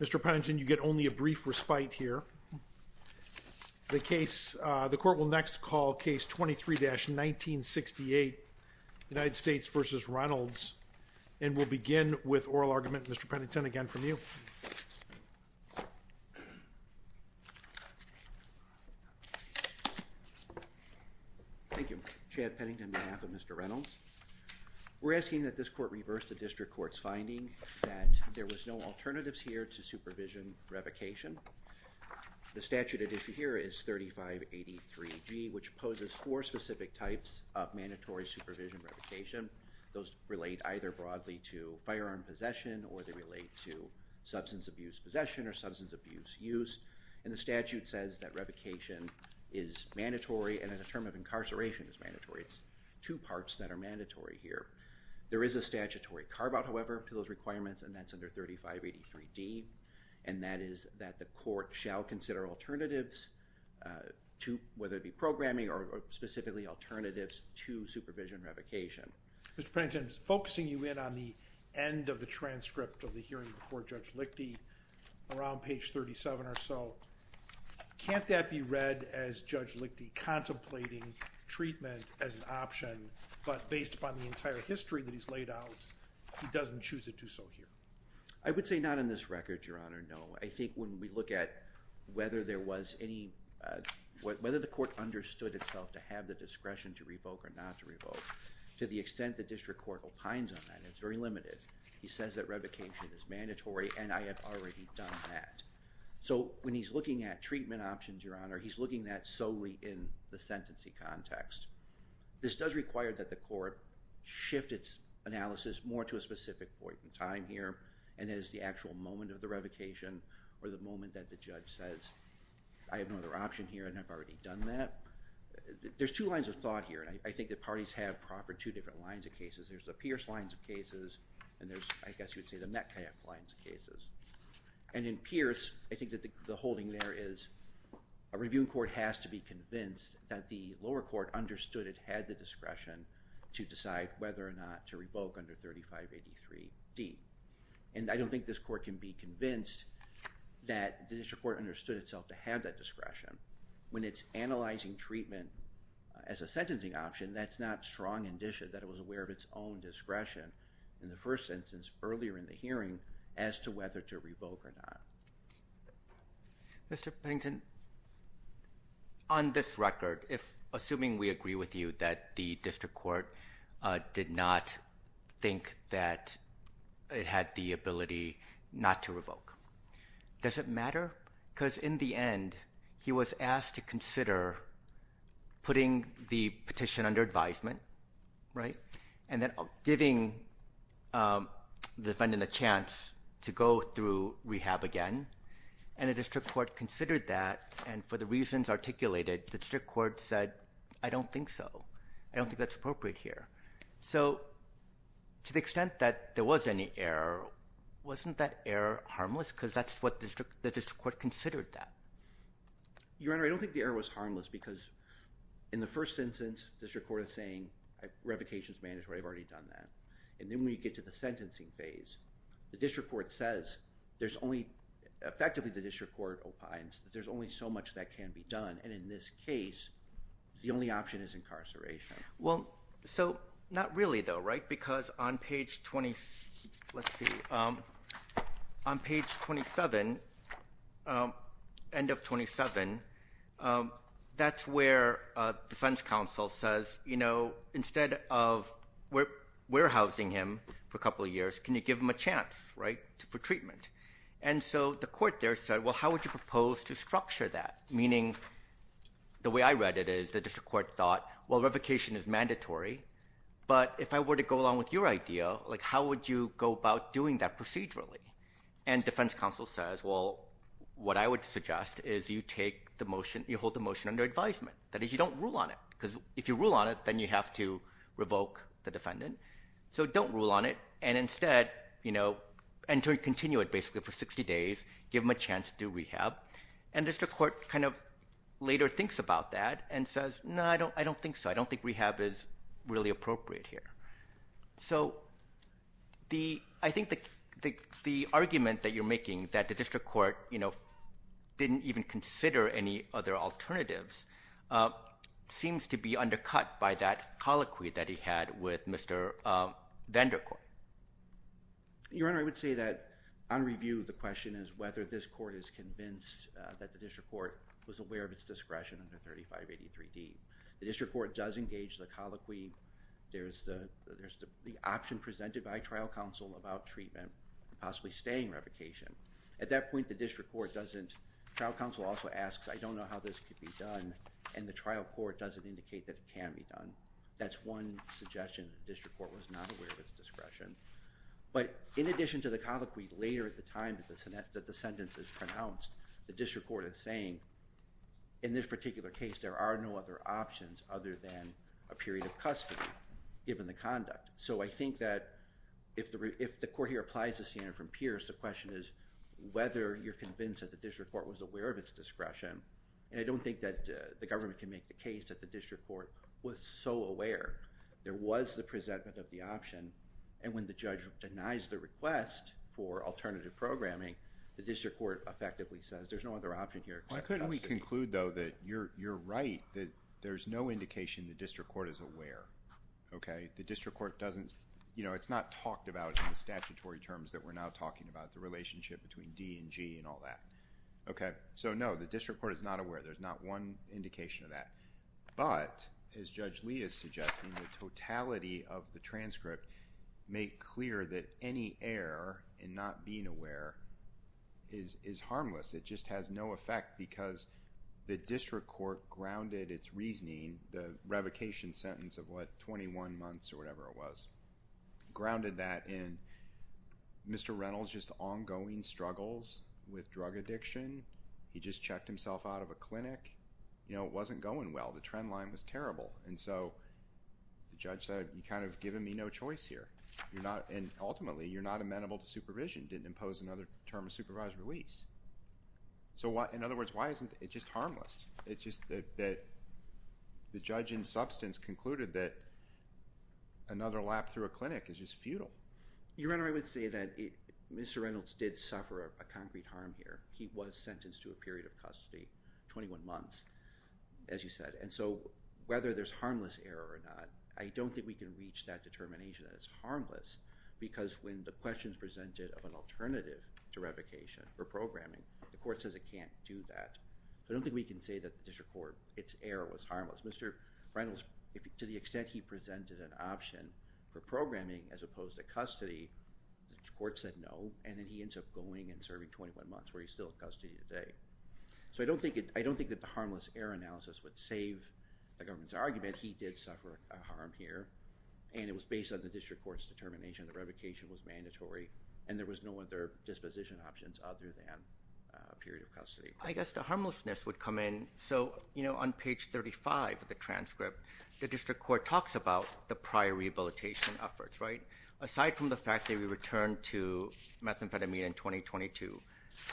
Mr. Pennington, you get only a brief respite here. The court will next call case 23-1968, United States v. Reynolds, and we'll begin with oral argument. Mr. Pennington, again from you. Thank you. Chad Pennington on behalf of Mr. Reynolds. We're asking that this court reverse the district court's finding that there was no alternatives here to supervision revocation. The statute at issue here is 3583G, which poses four specific types of mandatory supervision revocation. Those relate either broadly to firearm possession or they relate to substance abuse possession or substance abuse use, and the statute says that revocation is mandatory and in a term of incarceration is mandatory. It's two parts that are mandatory here. There is a statutory carve-out, however, to those requirements, and that's under 3583D, and that is that the court shall consider alternatives to, whether it be programming or specifically alternatives to supervision revocation. Mr. Pennington, focusing you in on the end of the transcript of the hearing before Judge Lichte contemplating treatment as an option, but based upon the entire history that he's laid out, he doesn't choose to do so here. I would say not in this record, Your Honor, no. I think when we look at whether the court understood itself to have the discretion to revoke or not to revoke, to the extent the district court opines on that, it's very limited. He says that revocation is mandatory, and I have already done that. So when he's looking at treatment options, Your Honor, he's looking at that solely in the sentencing context. This does require that the court shift its analysis more to a specific point in time here, and that is the actual moment of the revocation or the moment that the judge says, I have no other option here, and I've already done that. There's two lines of thought here, and I think the parties have proffered two different lines of cases. There's the Pierce lines of cases, and there's, I guess you'd say, the Metcalf lines of cases. And in Pierce, I think that the holding there is a reviewing court has to be convinced that the lower court understood it had the discretion to decide whether or not to revoke under 3583D. And I don't think this court can be convinced that the district court understood itself to have that discretion. When it's analyzing treatment as a sentencing option, that's not strong indicia that it was aware of its own discretion in the first sentence earlier in the hearing as to whether to revoke or not. Mr. Pennington, on this record, assuming we agree with you that the district court did not think that it had the ability not to revoke, does it matter? Because in the end, he was asked to consider putting the petition under advisement, right, and then giving the defendant a chance to go through rehab again. And the district court considered that, and for the reasons articulated, the district court said, I don't think so. I don't think that's appropriate here. So to the extent that there was any error, wasn't that error harmless? Because that's what the district court considered that. Your Honor, I don't think the error was harmless because in the first sentence, the district court is saying, revocation is mandatory. I've already done that. And then when you get to the sentencing phase, the district court says there's only, effectively the district court opines that there's only so much that can be done, and in this case, the only option is incarceration. Well, so not really though, right, because on page 20, let's see, on page 27, end of the sentence, you know, instead of warehousing him for a couple of years, can you give him a chance, right, for treatment? And so the court there said, well, how would you propose to structure that? Meaning, the way I read it is the district court thought, well, revocation is mandatory, but if I were to go along with your idea, like how would you go about doing that procedurally? And defense counsel says, well, what I would suggest is you take the motion, you hold the motion under advisement. That is, you don't rule on it, because if you rule on it, then you have to revoke the defendant. So don't rule on it, and instead, you know, continue it basically for 60 days, give him a chance to do rehab. And district court kind of later thinks about that and says, no, I don't think so. I don't think rehab is really appropriate here. So I think the argument that you're making, that the district court, you know, didn't even consider any other alternatives, seems to be undercut by that colloquy that he had with Mr. Vandercort. Your Honor, I would say that on review, the question is whether this court is convinced that the district court was aware of its discretion under 3583D. The district court does engage the colloquy. There's the option presented by trial counsel about treatment, possibly staying revocation. At that point, the district court doesn't, trial counsel also asks, I don't know how this could be done, and the trial court doesn't indicate that it can be done. That's one suggestion, the district court was not aware of its discretion. But in addition to the colloquy, later at the time that the sentence is pronounced, the district court is saying, in this particular case, there are no other options other than a period of custody, given the conduct. So I think that if the court here applies the standard from Pierce, the question is whether you're convinced that the district court was aware of its discretion, and I don't think that the government can make the case that the district court was so aware. There was the presentment of the option, and when the judge denies the request for alternative programming, the district court effectively says, there's no other option here. Why couldn't we conclude, though, that you're right, that there's no indication the district court is aware, okay? The district court doesn't, you know, it's not talked about in the statutory terms that we're now talking about, the relationship between D and G and all that. Okay, so no, the district court is not aware, there's not one indication of that. But, as Judge Lee is suggesting, the totality of the transcript made clear that any error in not being aware is harmless. It just has no effect because the district court grounded its reasoning, the revocation sentence of what, 21 months or whatever it was, grounded that in Mr. Reynolds' just ongoing struggles with drug addiction, he just checked himself out of a clinic, you know, it wasn't going well. The trend line was terrible. And so, the judge said, you've kind of given me no choice here, and ultimately, you're not amenable to supervision, didn't impose another term of supervised release. So in other words, why isn't it just harmless? It's just that the judge in substance concluded that another lap through a clinic is just futile. Your Honor, I would say that Mr. Reynolds did suffer a concrete harm here. He was sentenced to a period of custody, 21 months, as you said. And so, whether there's harmless error or not, I don't think we can reach that determination that it's harmless because when the question is presented of an alternative to revocation or programming, the court says it can't do that. So I don't think we can say that the district court, its error was harmless. Mr. Reynolds, to the extent he presented an option for programming as opposed to custody, the court said no, and then he ended up going and serving 21 months where he's still in custody today. So I don't think that the harmless error analysis would save the government's argument. He did suffer a harm here, and it was based on the district court's determination that revocation was mandatory, and there was no other disposition options other than a period of custody. I guess the harmlessness would come in. So, you know, on page 35 of the transcript, the district court talks about the prior rehabilitation efforts, right? Aside from the fact that he returned to methamphetamine in 2022,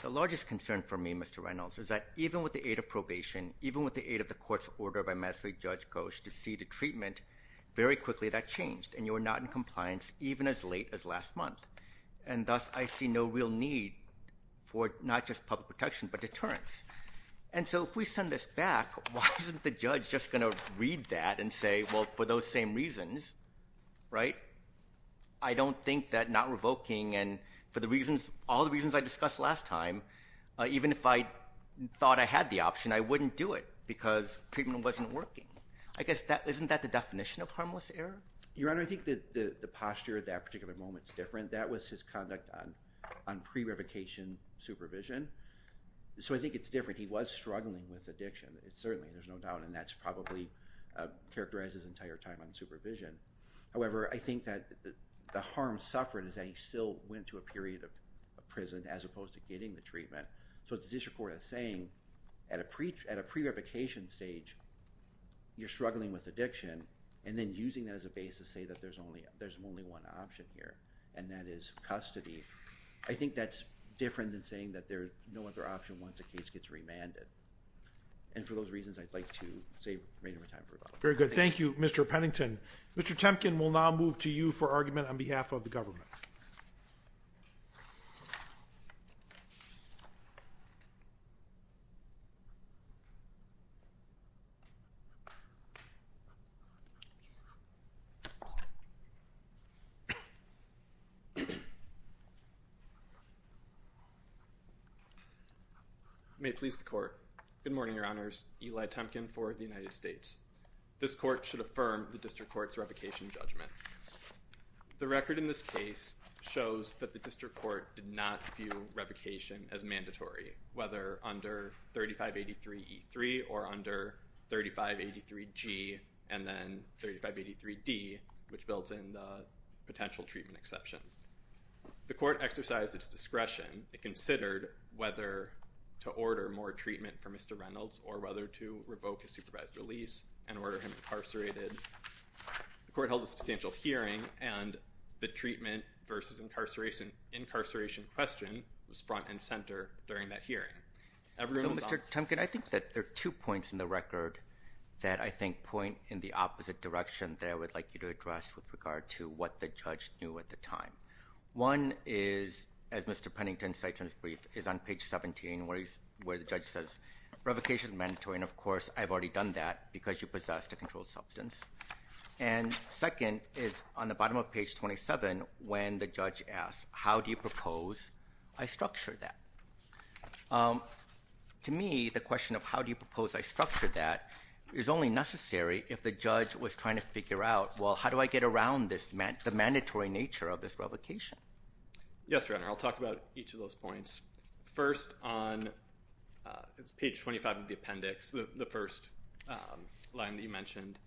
the largest concern for me, Mr. Reynolds, is that even with the aid of probation, even with the aid of the court's order by magistrate Judge Koch to see the treatment, very quickly that changed, and you were not in compliance even as late as last month. And thus, I see no real need for not just public protection but deterrence. And so if we send this back, why isn't the judge just going to read that and say, well, for those same reasons, right, I don't think that not revoking and for the reasons, all the reasons I discussed last time, even if I thought I had the option, I wouldn't do it because treatment wasn't working. I guess that, isn't that the definition of harmless error? Your Honor, I think that the posture at that particular moment is different. That was his conduct on pre-revocation supervision. So I think it's different. He was struggling with addiction. It's certainly, there's no doubt, and that's probably characterized his entire time on supervision. However, I think that the harm suffered is that he still went to a period of prison as opposed to getting the treatment. So the district court is saying at a pre-revocation stage, you're struggling with addiction and then using that as a base to say that there's only one option here, and that is custody. I think that's different than saying that there's no other option once a case gets remanded. And for those reasons, I'd like to say we're running out of time for rebuttal. Very good. Thank you, Mr. Pennington. Mr. Temkin, we'll now move to you for argument on behalf of the government. May it please the Court. Good morning, Your Honors. Eli Temkin for the United States. This Court should affirm the district court's revocation judgment. The record in this case shows that the district court did not view revocation as mandatory, whether under 3583E3 or under 3583G and then 3583D, which builds in the potential treatment exception. The court exercised its discretion. It considered whether to order more treatment for Mr. Reynolds or whether to revoke a supervised release and order him incarcerated. The court held a substantial hearing, and the treatment versus incarceration question was front and center during that hearing. Everyone was on- So, Mr. Temkin, I think that there are two points in the record that I think point in the opposite direction that I would like you to address with regard to what the judge knew at the time. One is, as Mr. Pennington cites in his brief, is on page 17, where the judge says, revocation is mandatory. And of course, I've already done that because you possess a controlled substance. And second is on the bottom of page 27, when the judge asks, how do you propose I structure that? To me, the question of how do you propose I structure that is only necessary if the judge was trying to figure out, well, how do I get around this, the mandatory nature of this revocation? Yes, Your Honor. I'll talk about each of those points. First, on page 25 of the appendix, the first line that you mentioned,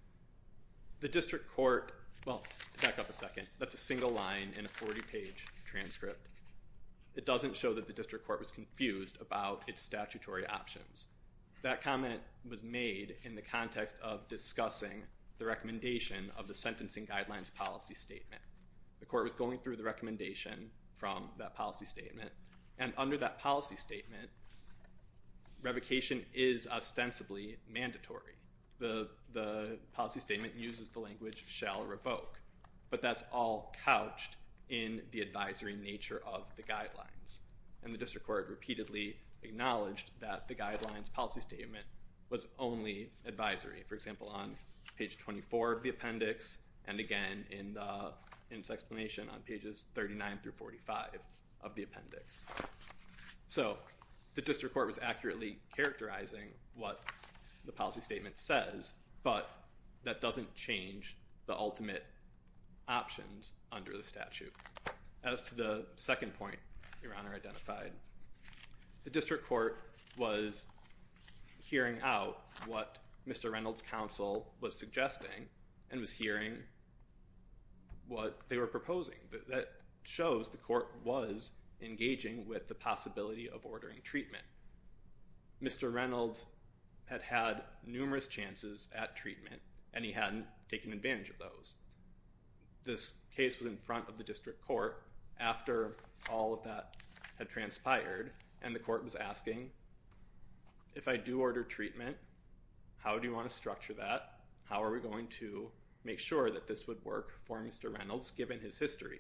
the district court- Well, back up a second. That's a single line in a 40-page transcript. It doesn't show that the district court was confused about its statutory options. That comment was made in the context of discussing the recommendation of the sentencing guidelines policy statement. The court was going through the recommendation from that policy statement. And under that policy statement, revocation is ostensibly mandatory. The policy statement uses the language shall revoke. But that's all couched in the advisory nature of the guidelines. And the district court repeatedly acknowledged that the guidelines policy statement was only advisory. For example, on page 24 of the appendix, and again in its explanation on pages 39-45 of the appendix. So the district court was accurately characterizing what the policy statement says, but that doesn't change the ultimate options under the statute. As to the second point Your Honor identified, the district court was hearing out what Mr. Reynolds' counsel was suggesting and was hearing what they were proposing. That shows the court was engaging with the possibility of ordering treatment. Mr. Reynolds had had numerous chances at treatment and he hadn't taken advantage of those. This case was in front of the district court after all of that had transpired. And the court was asking, if I do order treatment, how do you want to structure that? How are we going to make sure that this would work for Mr. Reynolds given his history?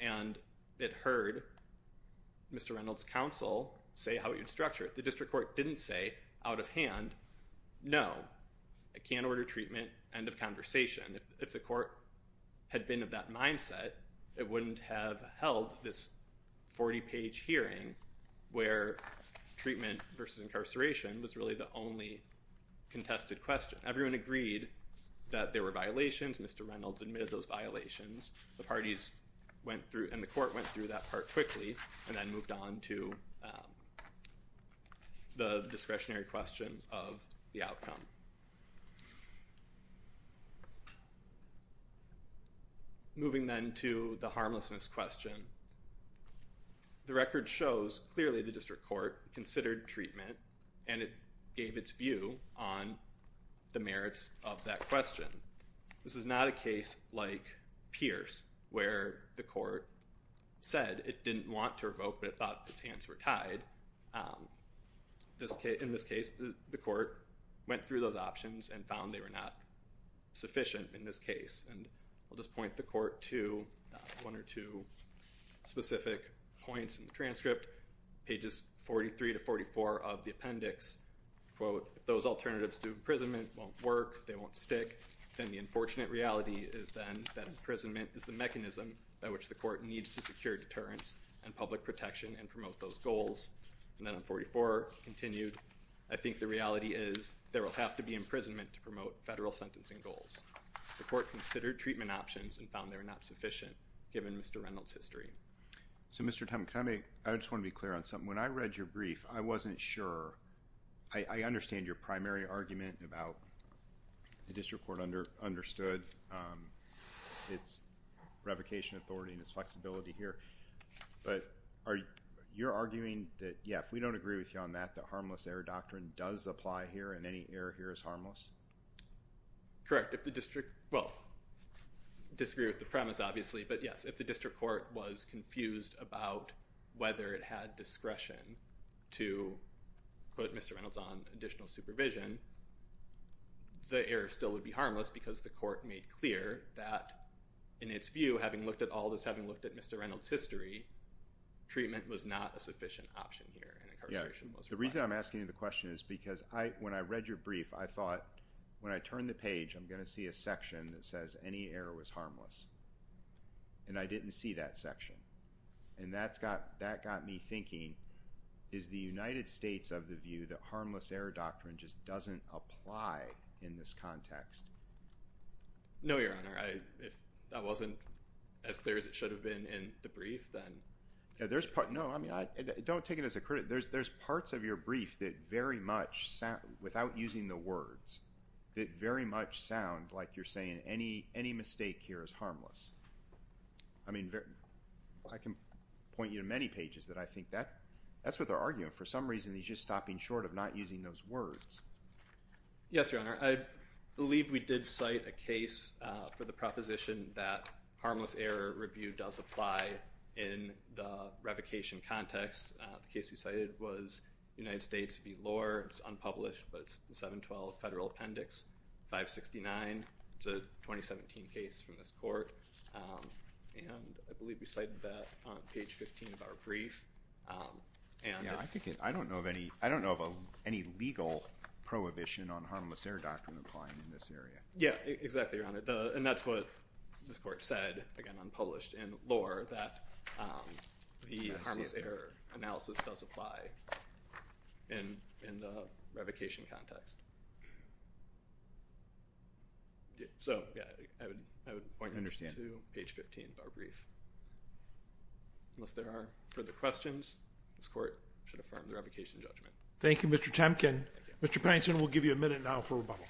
And it heard Mr. Reynolds' counsel say how he would structure it. The district court didn't say out of hand, no, I can't order treatment, end of conversation. If the court had been of that mindset, it wouldn't have held this 40-page hearing where treatment versus incarceration was really the only contested question. Everyone agreed that there were violations, Mr. Reynolds admitted those violations, and the court went through that part quickly and then moved on to the discretionary question of the outcome. Moving then to the harmlessness question. The record shows clearly the district court considered treatment and it gave its view on the merits of that question. This is not a case like Pierce where the court said it didn't want to revoke but it thought its hands were tied. In this case, the court went through those options and found they were not sufficient in this case. I'll just point the court to one or two specific points in the transcript, pages 43 to 44 of the appendix. Quote, if those alternatives to imprisonment won't work, they won't stick, then the unfortunate reality is then that imprisonment is the mechanism by which the court needs to secure deterrence and public protection and promote those goals. And then on 44, continued, I think the reality is there will have to be imprisonment to promote federal sentencing goals. The court considered treatment options and found they were not sufficient, given Mr. Reynolds' history. So, Mr. Tumm, can I make, I just want to be clear on something. When I read your brief, I wasn't sure, I understand your primary argument about the district court has understood its revocation authority and its flexibility here, but are you, you're arguing that, yeah, if we don't agree with you on that, that harmless error doctrine does apply here and any error here is harmless? Correct. If the district, well, disagree with the premise, obviously, but yes, if the district court was confused about whether it had discretion to put Mr. Reynolds on additional supervision, the error still would be harmless because the court made clear that, in its view, having looked at all this, having looked at Mr. Reynolds' history, treatment was not a sufficient option here. Yeah. And incarceration was required. The reason I'm asking you the question is because I, when I read your brief, I thought when I turn the page, I'm going to see a section that says any error was harmless. And I didn't see that section. And that's got, that got me thinking, is the United States of the view that harmless error doctrine just doesn't apply in this context? No, Your Honor, I, if that wasn't as clear as it should have been in the brief, then. Yeah, there's part, no, I mean, I, don't take it as a credit, there's, there's parts of your brief that very much sound, without using the words, that very much sound like you're saying any, any mistake here is harmless. I mean, I can point you to many pages that I think that, that's what they're arguing. For some reason, he's just stopping short of not using those words. Yes, Your Honor, I believe we did cite a case for the proposition that harmless error review does apply in the revocation context. The case we cited was United States v. Lohr, it's unpublished, but it's 712 Federal Appendix 569. It's a 2017 case from this court. And I believe we cited that on page 15 of our brief. Yeah, I think it, I don't know of any, I don't know of any legal prohibition on harmless error doctrine applying in this area. Yeah, exactly, Your Honor. And that's what this court said, again, unpublished, in Lohr, that the harmless error analysis does apply in, in the revocation context. So yeah, I would, I would point you to page 15 of our brief, unless there are further questions, this court should affirm the revocation judgment. Thank you, Mr. Temkin. Thank you. Mr. Pankton, we'll give you a minute now for rebuttal.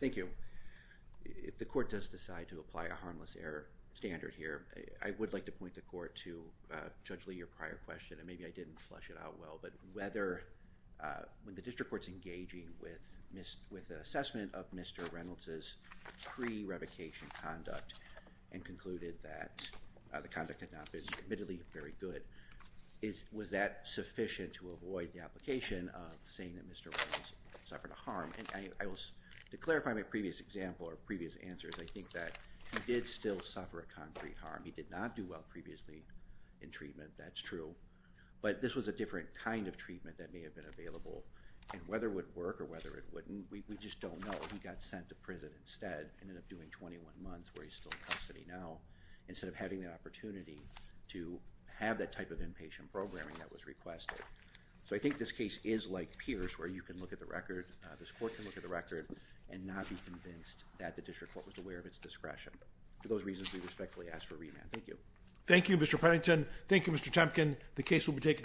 Thank you. If the court does decide to apply a harmless error standard here, I would like to point the court to Judge Lee, your prior question, and maybe I didn't flush it out well, but whether, when the district court's engaging with an assessment of Mr. Reynolds' pre-revocation conduct and concluded that the conduct had not been admittedly very good, was that sufficient to avoid the application of saying that Mr. Reynolds suffered a harm? And I will, to clarify my previous example or previous answers, I think that he did still suffer a concrete harm. He did not do well previously in treatment, that's true, but this was a different kind of treatment that may have been available, and whether it would work or whether it wouldn't, we just don't know. He got sent to prison instead, ended up doing 21 months where he's still in custody now instead of having the opportunity to have that type of inpatient programming that was requested. So I think this case is like Pierce, where you can look at the record, this court can look at the record and not be convinced that the district court was aware of its discretion. For those reasons, we respectfully ask for remand. Thank you. Thank you, Mr. Pennington. Thank you, Mr. Temkin. The case will be taken to our advisement.